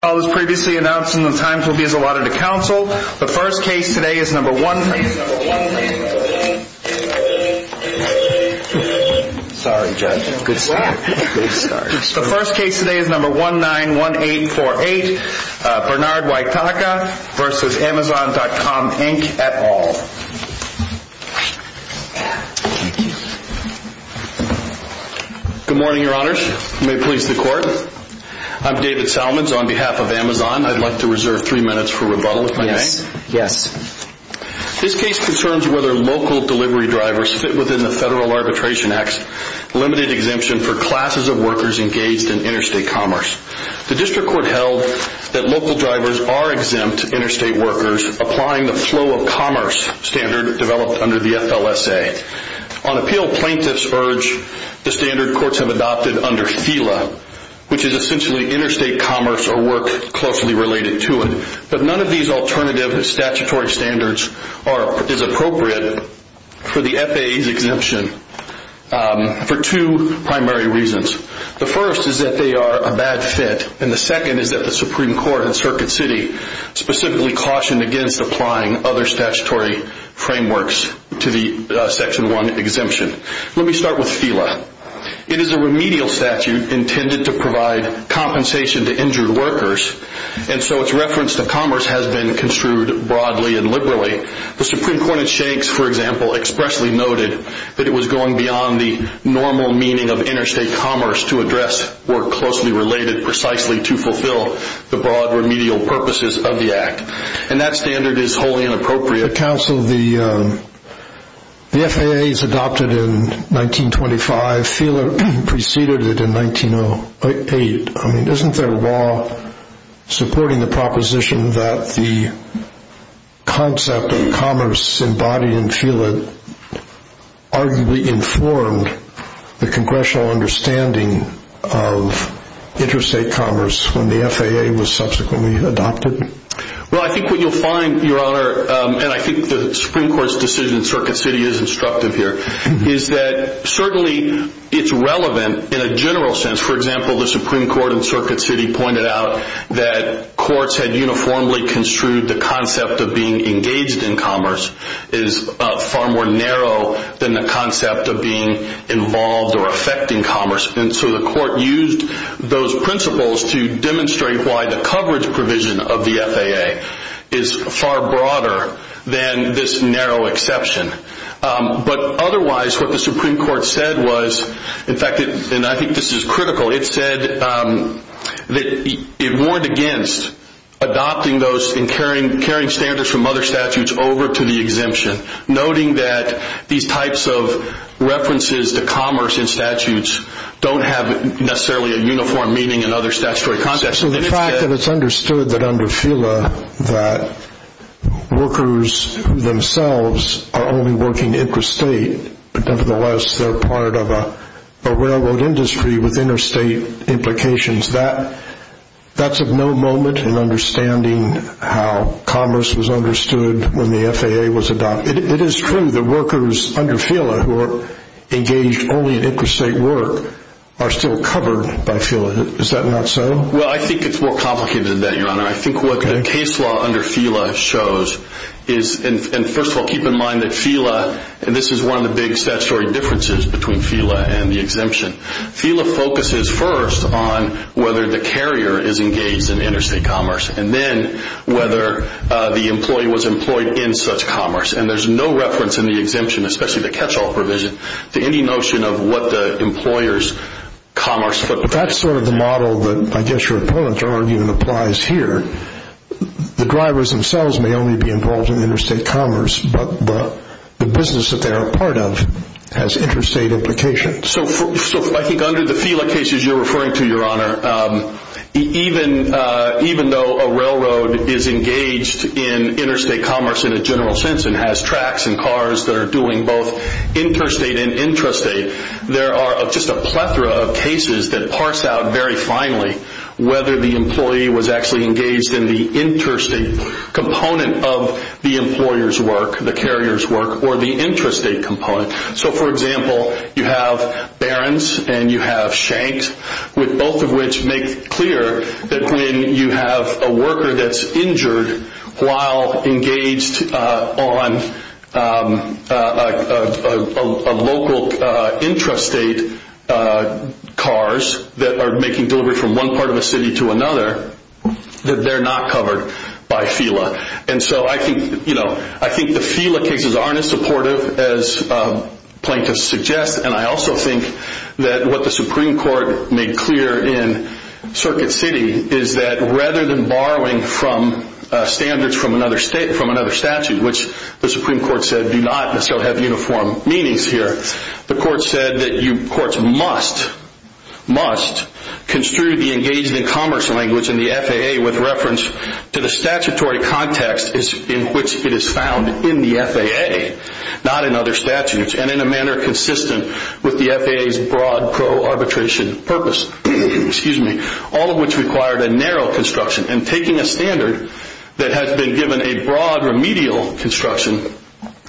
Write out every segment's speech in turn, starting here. All those previously announced in the times will be as allotted to counsel. The first case today is number one... Please, number one... Sorry, Judge. Good start. Good start. The first case today is number 191848, Bernard Waithaka v. Amazon.com, Inc., et al. Good morning, Your Honors. May it please the Court. I'm David Salmons on behalf of Amazon. I'd like to reserve three minutes for rebuttal, if I may. Yes. Yes. This case concerns whether local delivery drivers fit within the Federal Arbitration Act's limited exemption for classes of workers engaged in interstate commerce. The District Court held that local drivers are exempt interstate workers applying the flow of commerce standard developed under the FLSA. On appeal, plaintiffs urge the standard courts have adopted under FFILA, which is essentially interstate commerce or work closely related to it. But none of these alternative statutory standards is appropriate for the FAA's exemption for two primary reasons. The first is that they are a bad fit, and the second is that the Supreme Court in Circuit City specifically cautioned against applying other statutory frameworks to the Section 1 exemption. Let me start with FFILA. It is a remedial statute intended to provide compensation to injured workers, and so its reference to commerce has been construed broadly and liberally. The Supreme Court in Shanks, for example, expressly noted that it was going beyond the normal meaning of interstate commerce to address work closely related precisely to fulfill the broad remedial purposes of the Act. And that standard is wholly inappropriate. The FAA is adopted in 1925. FFILA preceded it in 1908. Isn't there a law supporting the proposition that the concept of commerce embodied in FFILA arguably informed the Congressional understanding of interstate commerce when the FAA was subsequently adopted? Well, I think what you'll find, Your Honor, and I think the Supreme Court's decision in Circuit City is instructive here, is that certainly it's relevant in a general sense. For example, the Supreme Court in Circuit City pointed out that courts had uniformly construed the concept of being engaged in commerce is far more narrow than the concept of being involved or affecting commerce. And so the court used those principles to demonstrate why the coverage provision of the FAA is far broader than this narrow exception. But otherwise, what the Supreme Court said was, in fact, and I think this is critical, it said that it warned against adopting those and carrying standards from other statutes over to the exemption, noting that these types of references to commerce in statutes don't have necessarily a uniform meaning in other statutory contexts. So the fact that it's understood that under FFILA that workers themselves are only working interstate but nevertheless they're part of a railroad industry with interstate implications, that's of no moment in understanding how commerce was understood when the FAA was adopted. It is true that workers under FFILA who are engaged only in interstate work are still covered by FFILA. Is that not so? Well, I think it's more complicated than that, Your Honor. I think what the case law under FFILA shows is, and first of all, keep in mind that FFILA, and this is one of the big statutory differences between FFILA and the exemption, FFILA focuses first on whether the carrier is engaged in interstate commerce and then whether the employee was employed in such commerce. And there's no reference in the exemption, especially the catch-all provision, to any notion of what the employer's commerce footprint is. That's sort of the model that I guess your opponent's argument applies here. The drivers themselves may only be involved in interstate commerce, but the business that they're a part of has interstate implications. So I think under the FFILA cases you're referring to, Your Honor, even though a railroad is engaged in interstate commerce in a general sense and has tracks and cars that are doing both interstate and intrastate, there are just a plethora of cases that parse out very finely whether the employee was actually engaged in the interstate component of the employer's work, the carrier's work, or the intrastate component. So, for example, you have Barron's and you have Schenck's, both of which make clear that when you have a worker that's injured while engaged on local intrastate cars that are making delivery from one part of a city to another, that they're not covered by FFILA. And so I think the FFILA cases aren't as supportive as plaintiffs suggest, and I also think that what the Supreme Court made clear in Circuit City is that rather than borrowing from standards from another statute, which the Supreme Court said do not necessarily have uniform meanings here, the court said that courts must construe the engaged in commerce language in the FAA with reference to the statutory context in which it is found in the FAA, not in other statutes, and in a manner consistent with the FAA's broad pro-arbitration purpose. All of which required a narrow construction, and taking a standard that has been given a broad remedial construction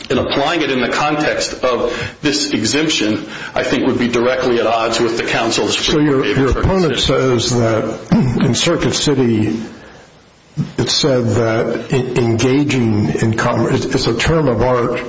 and applying it in the context of this exemption, I think, would be directly at odds with the counsels. So your opponent says that in Circuit City it said that engaging in commerce is a term of art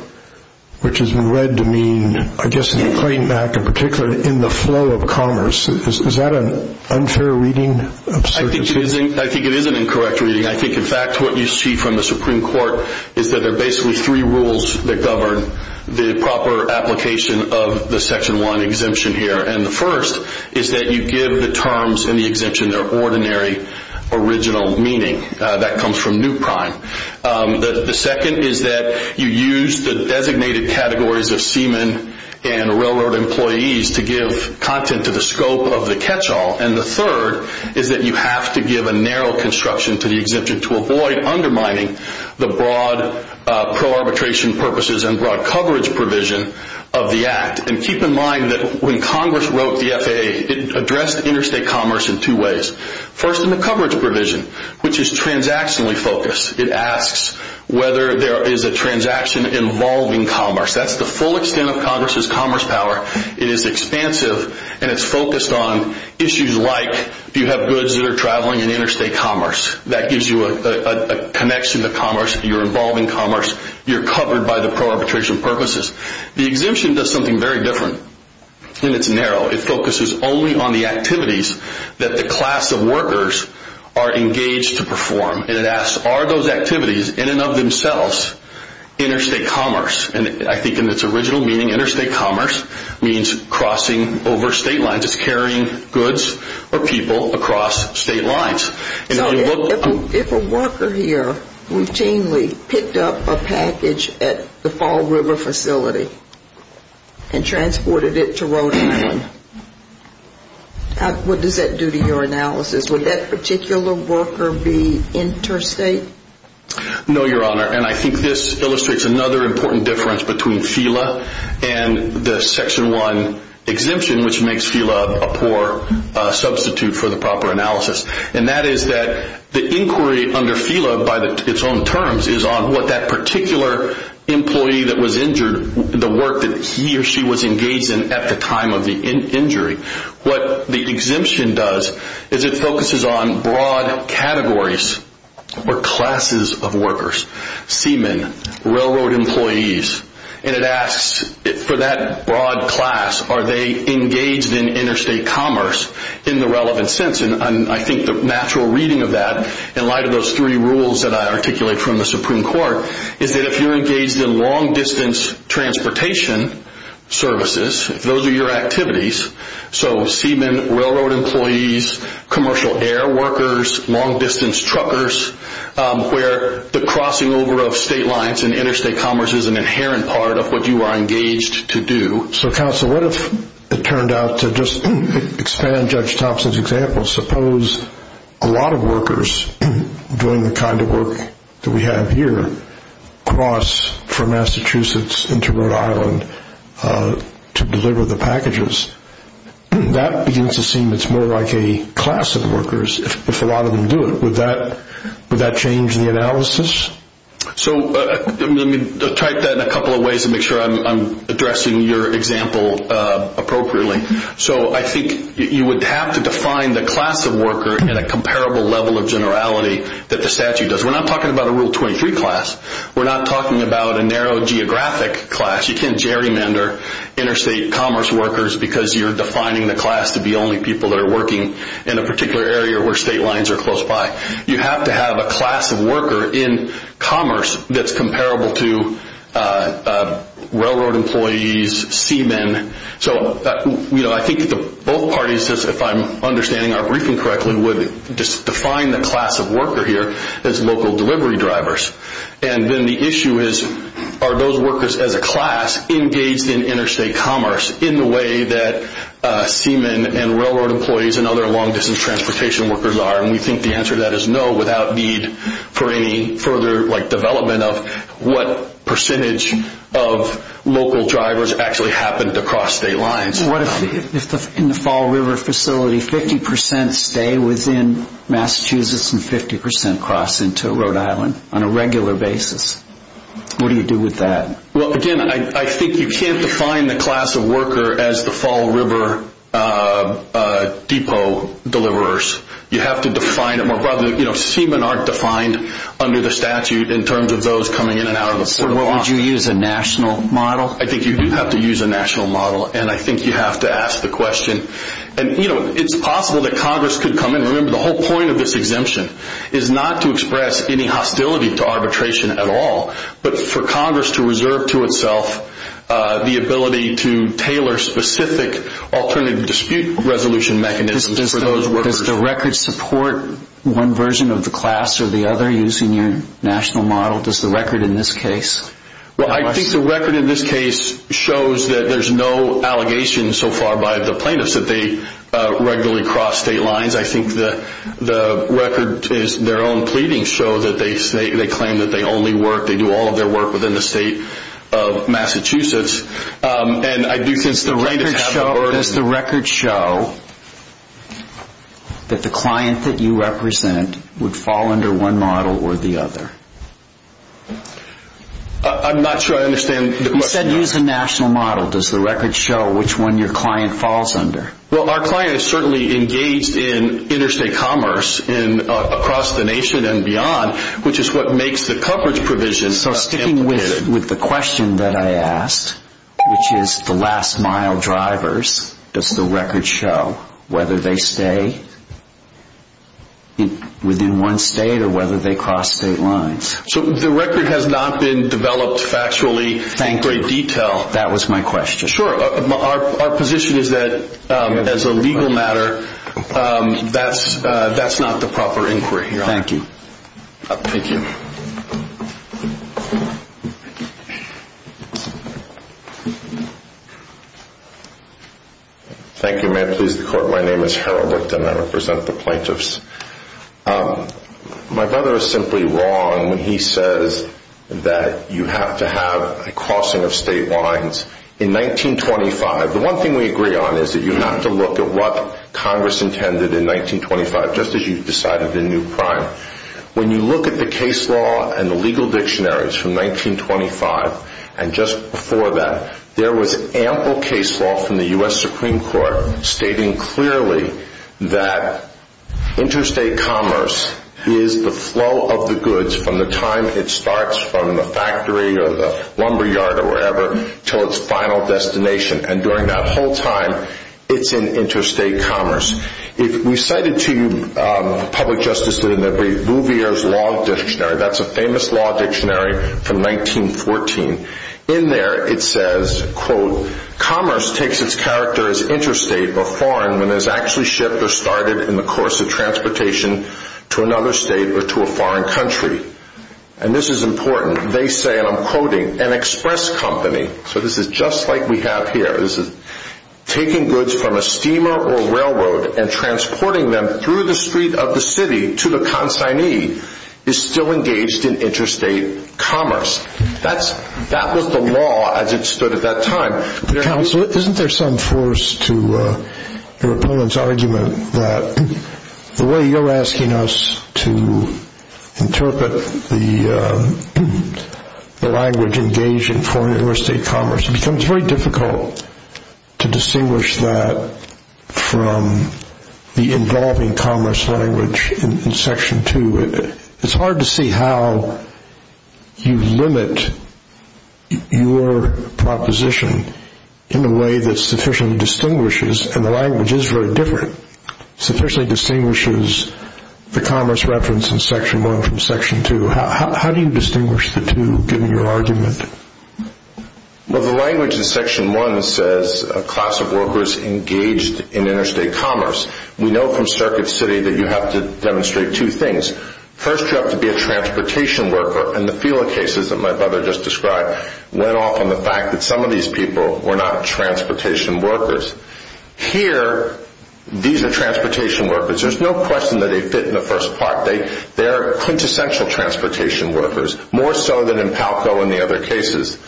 which has been read to mean, I guess in the Claim Act in particular, in the flow of commerce. Is that an unfair reading of Circuit City? I think it is an incorrect reading. I think, in fact, what you see from the Supreme Court is that there are basically three rules that govern the proper application of the Section 1 exemption here. And the first is that you give the terms in the exemption their ordinary original meaning. That comes from new prime. The second is that you use the designated categories of seamen and railroad employees to give content to the scope of the catch-all. And the third is that you have to give a narrow construction to the exemption to avoid undermining the broad pro-arbitration purposes and broad coverage provision of the Act. And keep in mind that when Congress wrote the FAA, it addressed interstate commerce in two ways. First, in the coverage provision, which is transactionally focused. It asks whether there is a transaction involving commerce. That's the full extent of Congress's commerce power. It is expansive, and it's focused on issues like do you have goods that are traveling in interstate commerce. That gives you a connection to commerce, you're involved in commerce, you're covered by the pro-arbitration purposes. The exemption does something very different, and it's narrow. It focuses only on the activities that the class of workers are engaged to perform. And it asks, are those activities in and of themselves interstate commerce? And I think in its original meaning, interstate commerce means crossing over state lines. It's carrying goods or people across state lines. If a worker here routinely picked up a package at the Fall River facility and transported it to Rhode Island, what does that do to your analysis? Would that particular worker be interstate? No, Your Honor. And I think this illustrates another important difference between FELA and the Section 1 exemption, which makes FELA a poor substitute for the proper analysis. And that is that the inquiry under FELA, by its own terms, is on what that particular employee that was injured, the work that he or she was engaged in at the time of the injury. What the exemption does is it focuses on broad categories or classes of workers. Seamen, railroad employees. And it asks, for that broad class, are they engaged in interstate commerce in the relevant sense? And I think the natural reading of that, in light of those three rules that I articulate from the Supreme Court, is that if you're engaged in long-distance transportation services, if those are your activities, so seamen, railroad employees, commercial air workers, long-distance truckers, where the crossing over of state lines and interstate commerce is an inherent part of what you are engaged to do. So, counsel, what if it turned out to just expand Judge Thompson's example? Suppose a lot of workers doing the kind of work that we have here cross from Massachusetts into Rhode Island to deliver the packages. That begins to seem it's more like a class of workers if a lot of them do it. Would that change the analysis? So, let me type that in a couple of ways to make sure I'm addressing your example appropriately. So, I think you would have to define the class of worker in a comparable level of generality that the statute does. We're not talking about a Rule 23 class. We're not talking about a narrow geographic class. You can't gerrymander interstate commerce workers because you're defining the class to be only people that are working in a particular area where state lines are close by. You have to have a class of worker in commerce that's comparable to railroad employees, seamen. So, I think both parties, if I'm understanding our briefing correctly, would just define the class of worker here as local delivery drivers. And then the issue is, are those workers as a class engaged in interstate commerce in the way that seamen and railroad employees and other long distance transportation workers are? And we think the answer to that is no without need for any further development of what percentage of local drivers actually happen to cross state lines. In the Fall River facility, 50% stay within Massachusetts and 50% cross into Rhode Island on a regular basis. What do you do with that? Well, again, I think you can't define the class of worker as the Fall River depot deliverers. You have to define it more broadly. Seamen aren't defined under the statute in terms of those coming in and out of the facility. Would you use a national model? I think you do have to use a national model and I think you have to ask the question. And, you know, it's possible that Congress could come in. Remember, the whole point of this exemption is not to express any hostility to arbitration at all, but for Congress to reserve to itself the ability to tailor specific alternative dispute resolution mechanisms for those workers. Does the record support one version of the class or the other using your national model? Does the record in this case? Well, I think the record in this case shows that there's no allegations so far by the plaintiffs that they regularly cross state lines. I think the record is their own pleadings show that they claim that they only work, they do all of their work within the state of Massachusetts. Does the record show that the client that you represent would fall under one model or the other? I'm not sure I understand the question. You said use a national model. Does the record show which one your client falls under? Well, our client is certainly engaged in interstate commerce and across the nation and beyond, which is what makes the coverage provision. So sticking with the question that I asked, which is the last mile drivers, does the record show whether they stay within one state or whether they cross state lines? So the record has not been developed factually in great detail. Thank you. That was my question. Sure. Our position is that as a legal matter, that's not the proper inquiry here. Thank you. Thank you. Thank you. May it please the court. My name is Harold Richter and I represent the plaintiffs. My brother is simply wrong when he says that you have to have a crossing of state lines. In 1925, the one thing we agree on is that you have to look at what Congress intended in 1925, just as you decided in New Prime. When you look at the case law and the legal dictionaries from 1925 and just before that, there was ample case law from the U.S. Supreme Court stating clearly that interstate commerce is the flow of the goods from the time it starts from the factory or the lumber yard or wherever until its final destination. And during that whole time, it's in interstate commerce. We cited to you public justices in the Rouvier's Law Dictionary. That's a famous law dictionary from 1914. In there, it says, quote, commerce takes its character as interstate or foreign when it's actually shipped or started in the course of transportation to another state or to a foreign country. And this is important. They say, and I'm quoting, an express company. So this is just like we have here. This is taking goods from a steamer or railroad and transporting them through the street of the city to the consignee is still engaged in interstate commerce. That was the law as it stood at that time. Isn't there some force to your opponent's argument that the way you're asking us to interpret the language engaged in foreign or interstate commerce, it becomes very difficult to distinguish that from the involving commerce language in Section 2. It's hard to see how you limit your proposition in a way that sufficiently distinguishes, and the language is very different, sufficiently distinguishes the commerce reference in Section 1 from Section 2. How do you distinguish the two, given your argument? Well, the language in Section 1 says a class of workers engaged in interstate commerce. We know from Circuit City that you have to demonstrate two things. First, you have to be a transportation worker. And the Fela cases that my brother just described went off on the fact that some of these people were not transportation workers. Here, these are transportation workers. There's no question that they fit in the first part. They are quintessential transportation workers, more so than in Palco and the other cases.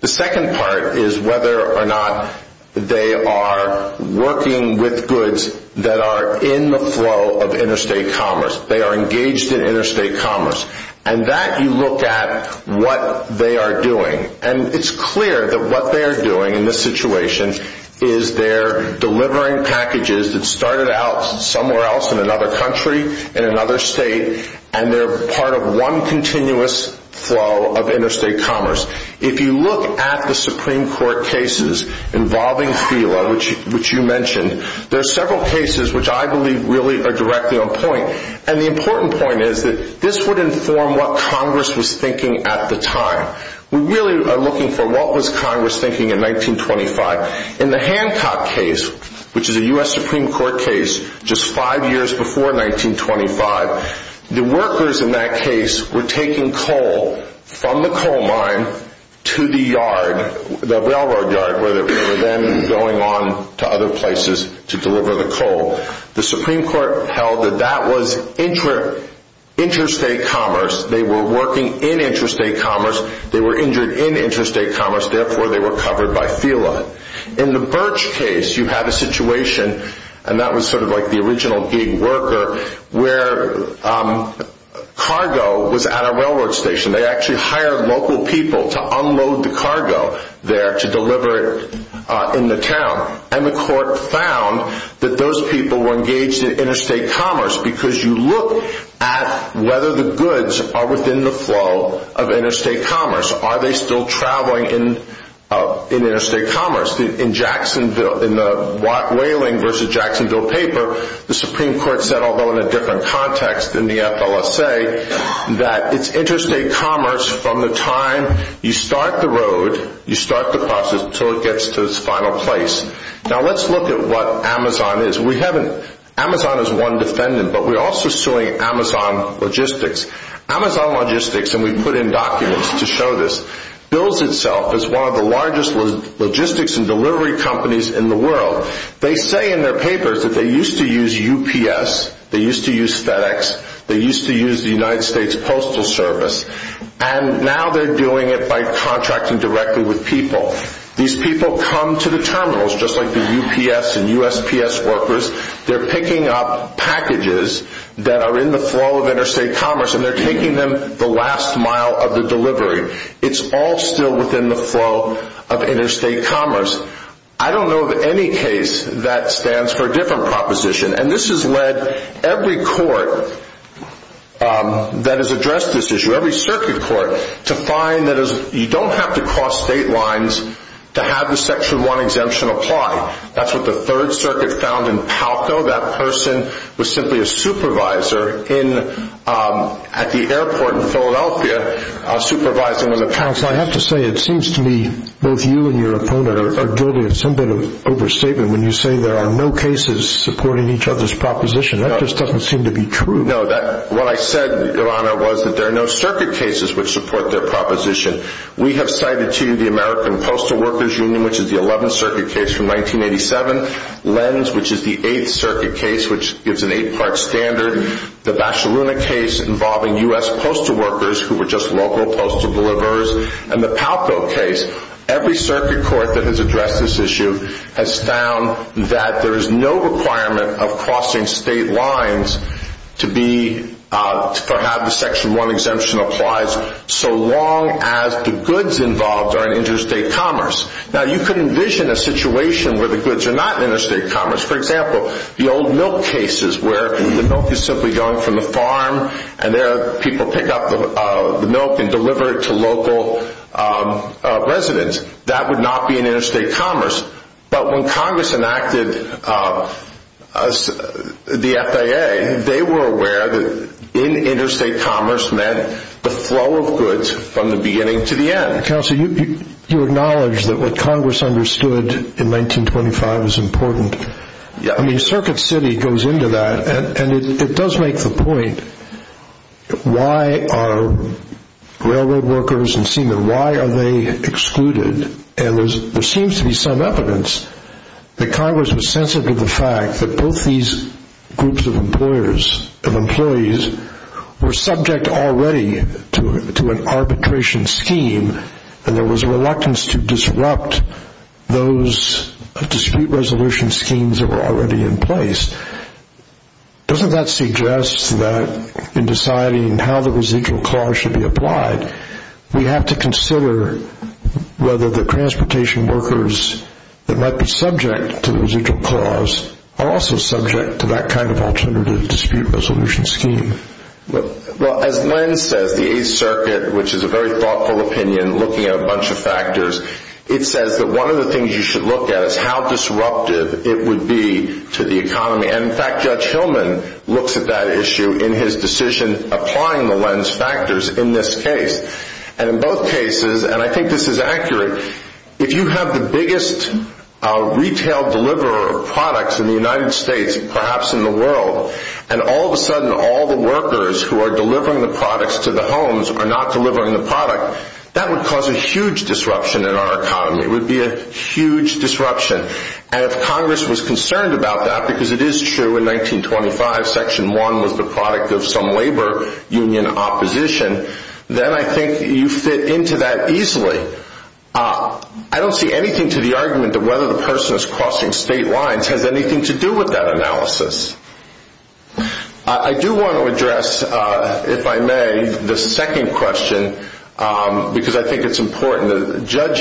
The second part is whether or not they are working with goods that are in the flow of interstate commerce. They are engaged in interstate commerce. And that you look at what they are doing. And it's clear that what they are doing in this situation is they're delivering packages that started out somewhere else in another country, in another state, and they're part of one continuous flow of interstate commerce. If you look at the Supreme Court cases involving Fela, which you mentioned, there are several cases which I believe really are directly on point. And the important point is that this would inform what Congress was thinking at the time. We really are looking for what was Congress thinking in 1925. In the Hancock case, which is a U.S. Supreme Court case just five years before 1925, the workers in that case were taking coal from the coal mine to the yard, the railroad yard, where they were then going on to other places to deliver the coal. The Supreme Court held that that was interstate commerce. They were working in interstate commerce. They were injured in interstate commerce. Therefore, they were covered by Fela. In the Birch case, you have a situation, and that was sort of like the original gig worker, where cargo was at a railroad station. They actually hired local people to unload the cargo there to deliver it in the town. And the court found that those people were engaged in interstate commerce, because you look at whether the goods are within the flow of interstate commerce. Are they still traveling in interstate commerce? In the Whaling v. Jacksonville paper, the Supreme Court said, although in a different context than the FLSA, that it's interstate commerce from the time you start the road, you start the process until it gets to its final place. Now, let's look at what Amazon is. Amazon is one defendant, but we're also suing Amazon Logistics. Amazon Logistics, and we put in documents to show this, bills itself as one of the largest logistics and delivery companies in the world. They say in their papers that they used to use UPS, they used to use FedEx, they used to use the United States Postal Service, and now they're doing it by contracting directly with people. These people come to the terminals, just like the UPS and USPS workers. They're picking up packages that are in the flow of interstate commerce, and they're taking them the last mile of the delivery. It's all still within the flow of interstate commerce. I don't know of any case that stands for a different proposition, and this has led every court that has addressed this issue, every circuit court, to find that you don't have to cross state lines to have the Section 1 exemption apply. That's what the Third Circuit found in Palco. That person was simply a supervisor at the airport in Philadelphia, supervising with a counsel. I have to say, it seems to me both you and your opponent are guilty of some bit of overstatement when you say there are no cases supporting each other's proposition. That just doesn't seem to be true. No, what I said, Your Honor, was that there are no circuit cases which support their proposition. We have cited to you the American Postal Workers Union, which is the 11th Circuit case from 1987, Lenz, which is the 8th Circuit case, which gives an eight-part standard, the Bacaluna case involving U.S. postal workers who were just local postal deliverers, and the Palco case. Every circuit court that has addressed this issue has found that there is no requirement of crossing state lines for how the Section 1 exemption applies so long as the goods involved are in interstate commerce. Now, you could envision a situation where the goods are not in interstate commerce. For example, the old milk cases where the milk is simply gone from the farm, and there people pick up the milk and deliver it to local residents. That would not be in interstate commerce. But when Congress enacted the FAA, they were aware that in interstate commerce meant the flow of goods from the beginning to the end. Counsel, you acknowledge that what Congress understood in 1925 is important. Circuit City goes into that, and it does make the point, why are railroad workers and seamen, why are they excluded? And there seems to be some evidence that Congress was sensitive to the fact that both these groups of employees were subject already to an arbitration scheme, and there was reluctance to disrupt those dispute resolution schemes that were already in place. Doesn't that suggest that in deciding how the residual clause should be applied, we have to consider whether the transportation workers that might be subject to the residual clause are also subject to that kind of alternative dispute resolution scheme? Well, as Lenz says, the Eighth Circuit, which is a very thoughtful opinion looking at a bunch of factors, it says that one of the things you should look at is how disruptive it would be to the economy. And in fact, Judge Hillman looks at that issue in his decision applying the Lenz factors in this case. And in both cases, and I think this is accurate, if you have the biggest retail deliverer of products in the United States, perhaps in the world, and all of a sudden all the workers who are delivering the products to the homes are not delivering the product, that would cause a huge disruption in our economy. It would be a huge disruption. And if Congress was concerned about that, because it is true in 1925, Section 1 was the product of some labor union opposition, then I think you fit into that easily. I don't see anything to the argument that whether the person is crossing state lines has anything to do with that analysis. I do want to address, if I may, the second question, because I think it's important. Judge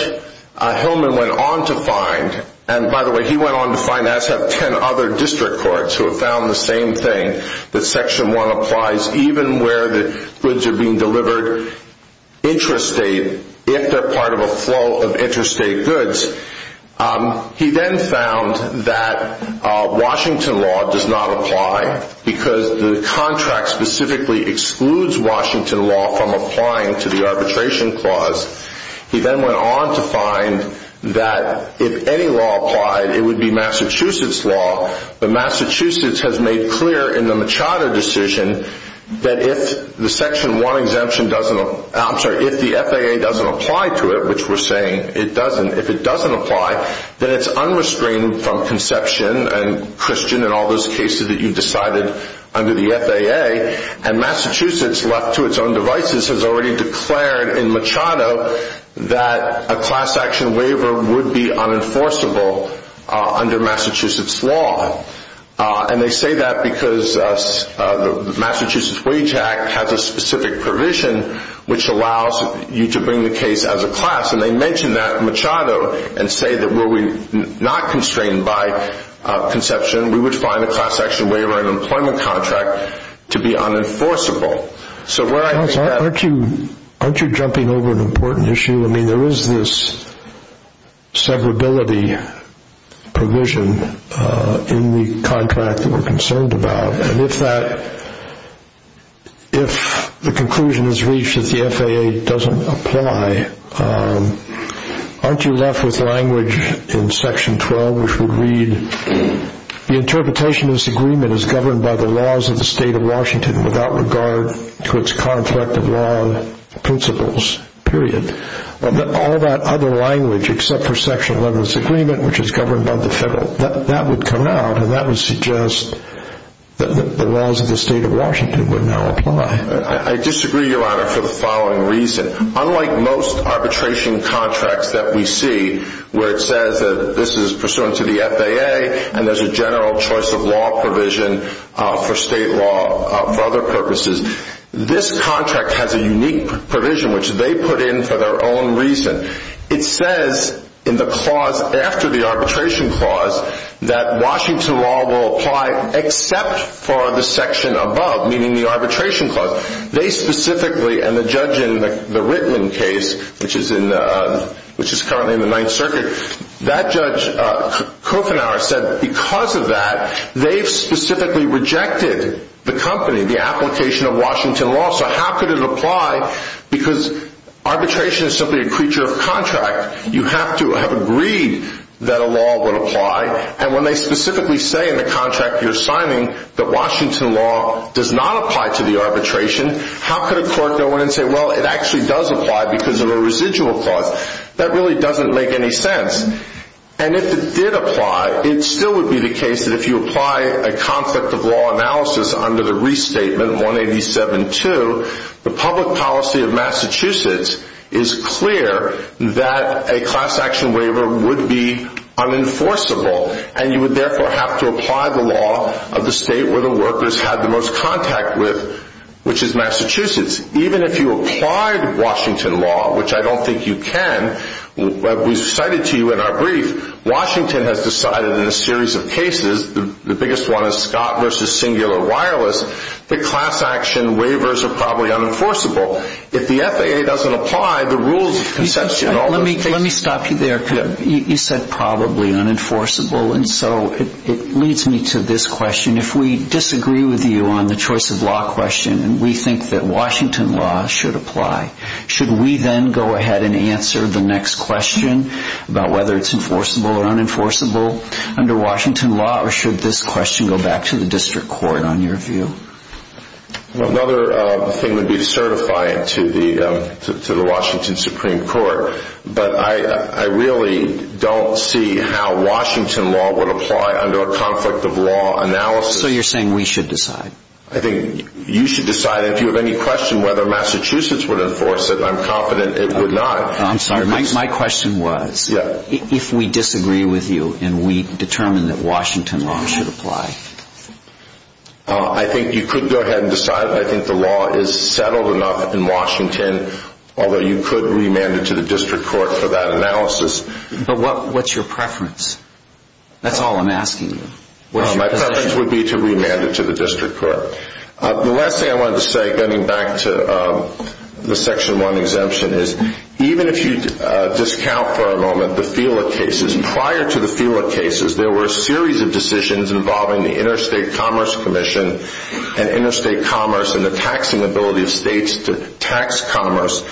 Hillman went on to find, and by the way, he went on to find as have ten other district courts who have found the same thing, that Section 1 applies even where the goods are being delivered, intrastate, if they're part of a flow of intrastate goods. He then found that Washington law does not apply, because the contract specifically excludes Washington law from applying to the arbitration clause. He then went on to find that if any law applied, it would be Massachusetts law, but Massachusetts has made clear in the Machado decision that if the FAA doesn't apply to it, which we're saying it doesn't, if it doesn't apply, then it's unrestrained from conception and Christian and all those cases that you decided under the FAA, and Massachusetts, left to its own devices, has already declared in Machado that a class action waiver would be unenforceable under Massachusetts law. And they say that because the Massachusetts Wage Act has a specific provision which allows you to bring the case as a class, and they mention that in Machado and say that were we not constrained by conception, we would find a class action waiver in an employment contract to be unenforceable. Aren't you jumping over an important issue? I mean, there is this severability provision in the contract that we're concerned about, and if the conclusion is reached that the FAA doesn't apply, aren't you left with language in Section 12 which would read, the interpretation of this agreement is governed by the laws of the state of Washington without regard to its conflict of law principles, period. All that other language except for Section 11's agreement, which is governed by the federal, that would come out, and that would suggest that the laws of the state of Washington would now apply. I disagree, Your Honor, for the following reason. Unlike most arbitration contracts that we see where it says that this is pursuant to the FAA and there's a general choice of law provision for state law for other purposes, this contract has a unique provision which they put in for their own reason. It says in the clause after the arbitration clause that Washington law will apply except for the section above, meaning the arbitration clause. They specifically, and the judge in the Rittman case, which is currently in the Ninth Circuit, that judge Kofenauer said because of that, they've specifically rejected the company, the application of Washington law, so how could it apply? Because arbitration is simply a creature of contract. You have to have agreed that a law would apply, and when they specifically say in the contract you're signing that Washington law does not apply to the arbitration, how could a court go in and say, well, it actually does apply because of a residual clause? That really doesn't make any sense. And if it did apply, it still would be the case that if you apply a conflict of law analysis under the restatement 187.2, the public policy of Massachusetts is clear that a class action waiver would be unenforceable, and you would therefore have to apply the law of the state where the workers had the most contact with, which is Massachusetts. Even if you applied Washington law, which I don't think you can, we cited to you in our brief, Washington has decided in a series of cases, the biggest one is Scott v. Singular Wireless, that class action waivers are probably unenforceable. If the FAA doesn't apply, the rules of conception all those cases. Let me stop you there. You said probably unenforceable, and so it leads me to this question. If we disagree with you on the choice of law question and we think that Washington law should apply, should we then go ahead and answer the next question about whether it's enforceable or unenforceable under Washington law, or should this question go back to the district court on your view? Another thing would be to certify it to the Washington Supreme Court. But I really don't see how Washington law would apply under a conflict of law analysis. So you're saying we should decide? I think you should decide. If you have any question whether Massachusetts would enforce it, I'm confident it would not. I'm sorry. My question was if we disagree with you and we determine that Washington law should apply. I think you could go ahead and decide. I think the law is settled enough in Washington, although you could remand it to the district court for that analysis. But what's your preference? That's all I'm asking. My preference would be to remand it to the district court. The last thing I wanted to say, getting back to the Section 1 exemption, is even if you discount for a moment the FELA cases, prior to the FELA cases there were a series of decisions involving the Interstate Commerce Commission and interstate commerce and the taxing ability of states to tax commerce.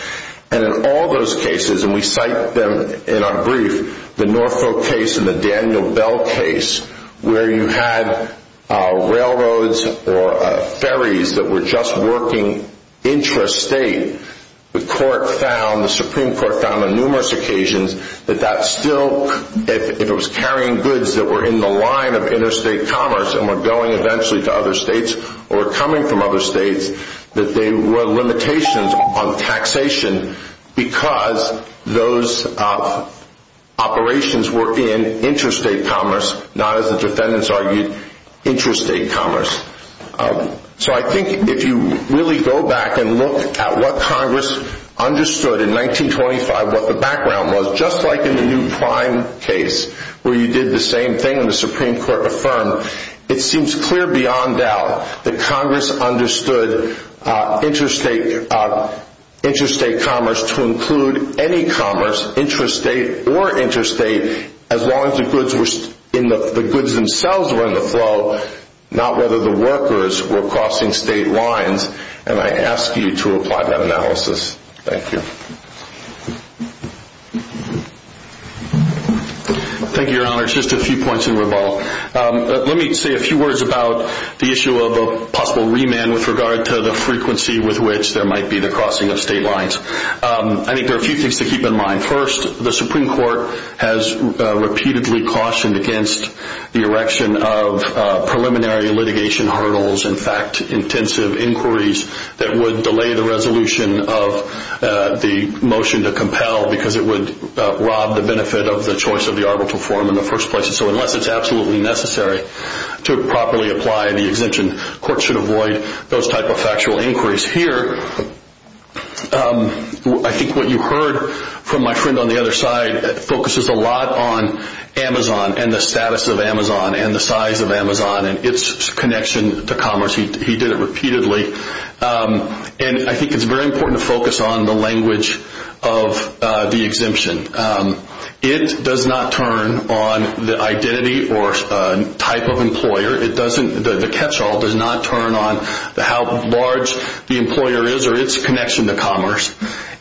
And in all those cases, and we cite them in our brief, the Norfolk case and the Daniel Bell case, where you had railroads or ferries that were just working intrastate, the Supreme Court found on numerous occasions that that still, if it was carrying goods that were in the line of interstate commerce and were going eventually to other states or coming from other states, that there were limitations on taxation because those operations were in interstate commerce, not, as the defendants argued, interstate commerce. So I think if you really go back and look at what Congress understood in 1925, what the background was, just like in the New Prime case where you did the same thing and the Supreme Court affirmed, it seems clear beyond doubt that Congress understood interstate commerce to include any commerce, intrastate or interstate, as long as the goods themselves were in the flow, not whether the workers were crossing state lines, and I ask you to apply that analysis. Thank you. Thank you, Your Honor. Just a few points in rebuttal. Let me say a few words about the issue of a possible remand with regard to the frequency with which there might be the crossing of state lines. I think there are a few things to keep in mind. First, the Supreme Court has repeatedly cautioned against the erection of preliminary litigation hurdles, in fact, intensive inquiries that would delay the resolution of the motion to compel because it would rob the benefit of the choice of the arbitral forum in the first place. So unless it's absolutely necessary to properly apply the exemption, courts should avoid those type of factual inquiries. Here, I think what you heard from my friend on the other side focuses a lot on Amazon and the status of Amazon and the size of Amazon and its connection to commerce. He did it repeatedly, and I think it's very important to focus on the language of the exemption. It does not turn on the identity or type of employer. The catchall does not turn on how large the employer is or its connection to commerce,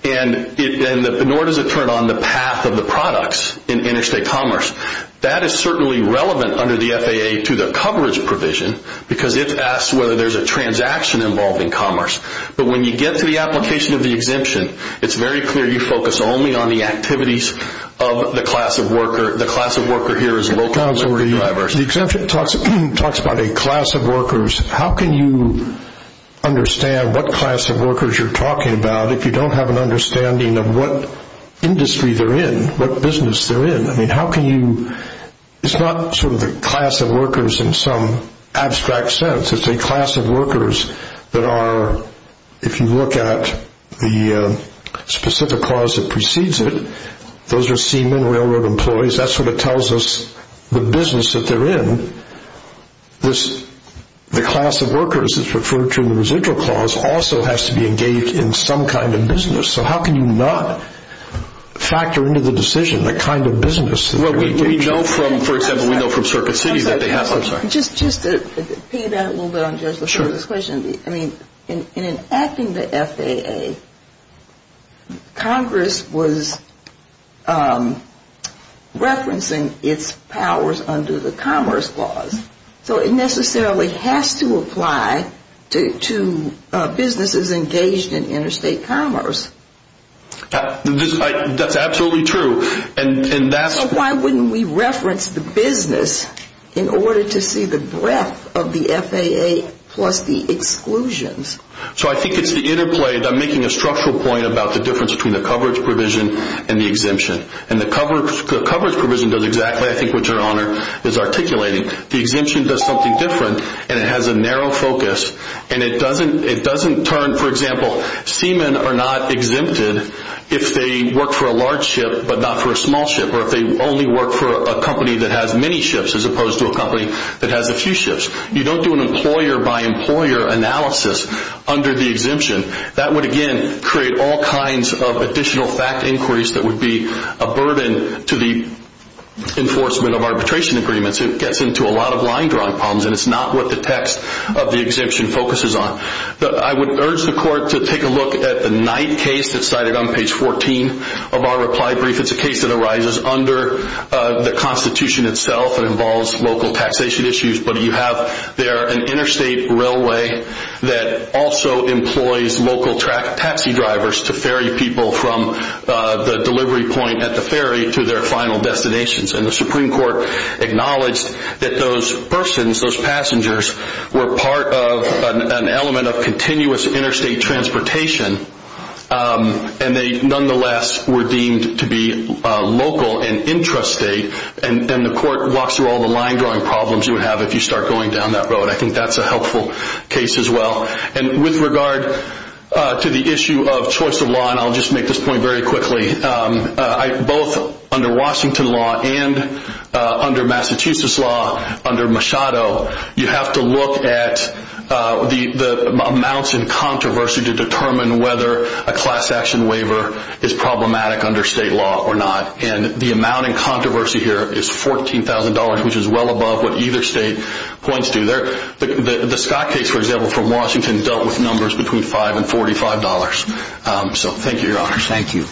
nor does it turn on the path of the products in interstate commerce. That is certainly relevant under the FAA to the coverage provision because it asks whether there's a transaction involved in commerce. But when you get to the application of the exemption, it's very clear you focus only on the activities of the class of worker. The class of worker here is local and diverse. The exemption talks about a class of workers. How can you understand what class of workers you're talking about if you don't have an understanding of what industry they're in, what business they're in? It's not sort of the class of workers in some abstract sense. It's a class of workers that are, if you look at the specific clause that precedes it, those are seamen, railroad employees. That's what it tells us the business that they're in. The class of workers is referred to in the residual clause also has to be engaged in some kind of business. So how can you not factor into the decision the kind of business that they're engaged in? We know from, for example, we know from Circuit City that they have some. Just to piggyback a little bit on Judge LaFleur's question, in enacting the FAA, Congress was referencing its powers under the Commerce Clause. So it necessarily has to apply to businesses engaged in interstate commerce. That's absolutely true. So why wouldn't we reference the business in order to see the breadth of the FAA plus the exclusions? So I think it's the interplay. I'm making a structural point about the difference between the coverage provision and the exemption. The coverage provision does exactly, I think, what Your Honor is articulating. The exemption does something different, and it has a narrow focus. It doesn't turn, for example, seamen are not exempted if they work for a large ship but not for a small ship, or if they only work for a company that has many ships as opposed to a company that has a few ships. You don't do an employer-by-employer analysis under the exemption. That would, again, create all kinds of additional fact inquiries that would be a burden to the enforcement of arbitration agreements. It gets into a lot of line-drawing problems, and it's not what the text of the exemption focuses on. I would urge the Court to take a look at the Knight case that's cited on page 14 of our reply brief. It's a case that arises under the Constitution itself. It involves local taxation issues, but you have there an interstate railway that also employs local taxi drivers to ferry people from the delivery point at the ferry to their final destinations. And the Supreme Court acknowledged that those persons, those passengers, were part of an element of continuous interstate transportation, and they nonetheless were deemed to be local and intrastate. And the Court walks through all the line-drawing problems you would have if you start going down that road. I think that's a helpful case as well. And with regard to the issue of choice of law, and I'll just make this point very quickly, both under Washington law and under Massachusetts law, under Machado, you have to look at the amounts in controversy to determine whether a class action waiver is problematic under state law or not. And the amount in controversy here is $14,000, which is well above what either state points to. The Scott case, for example, from Washington dealt with numbers between $5 and $45. So thank you, Your Honor. Thank you.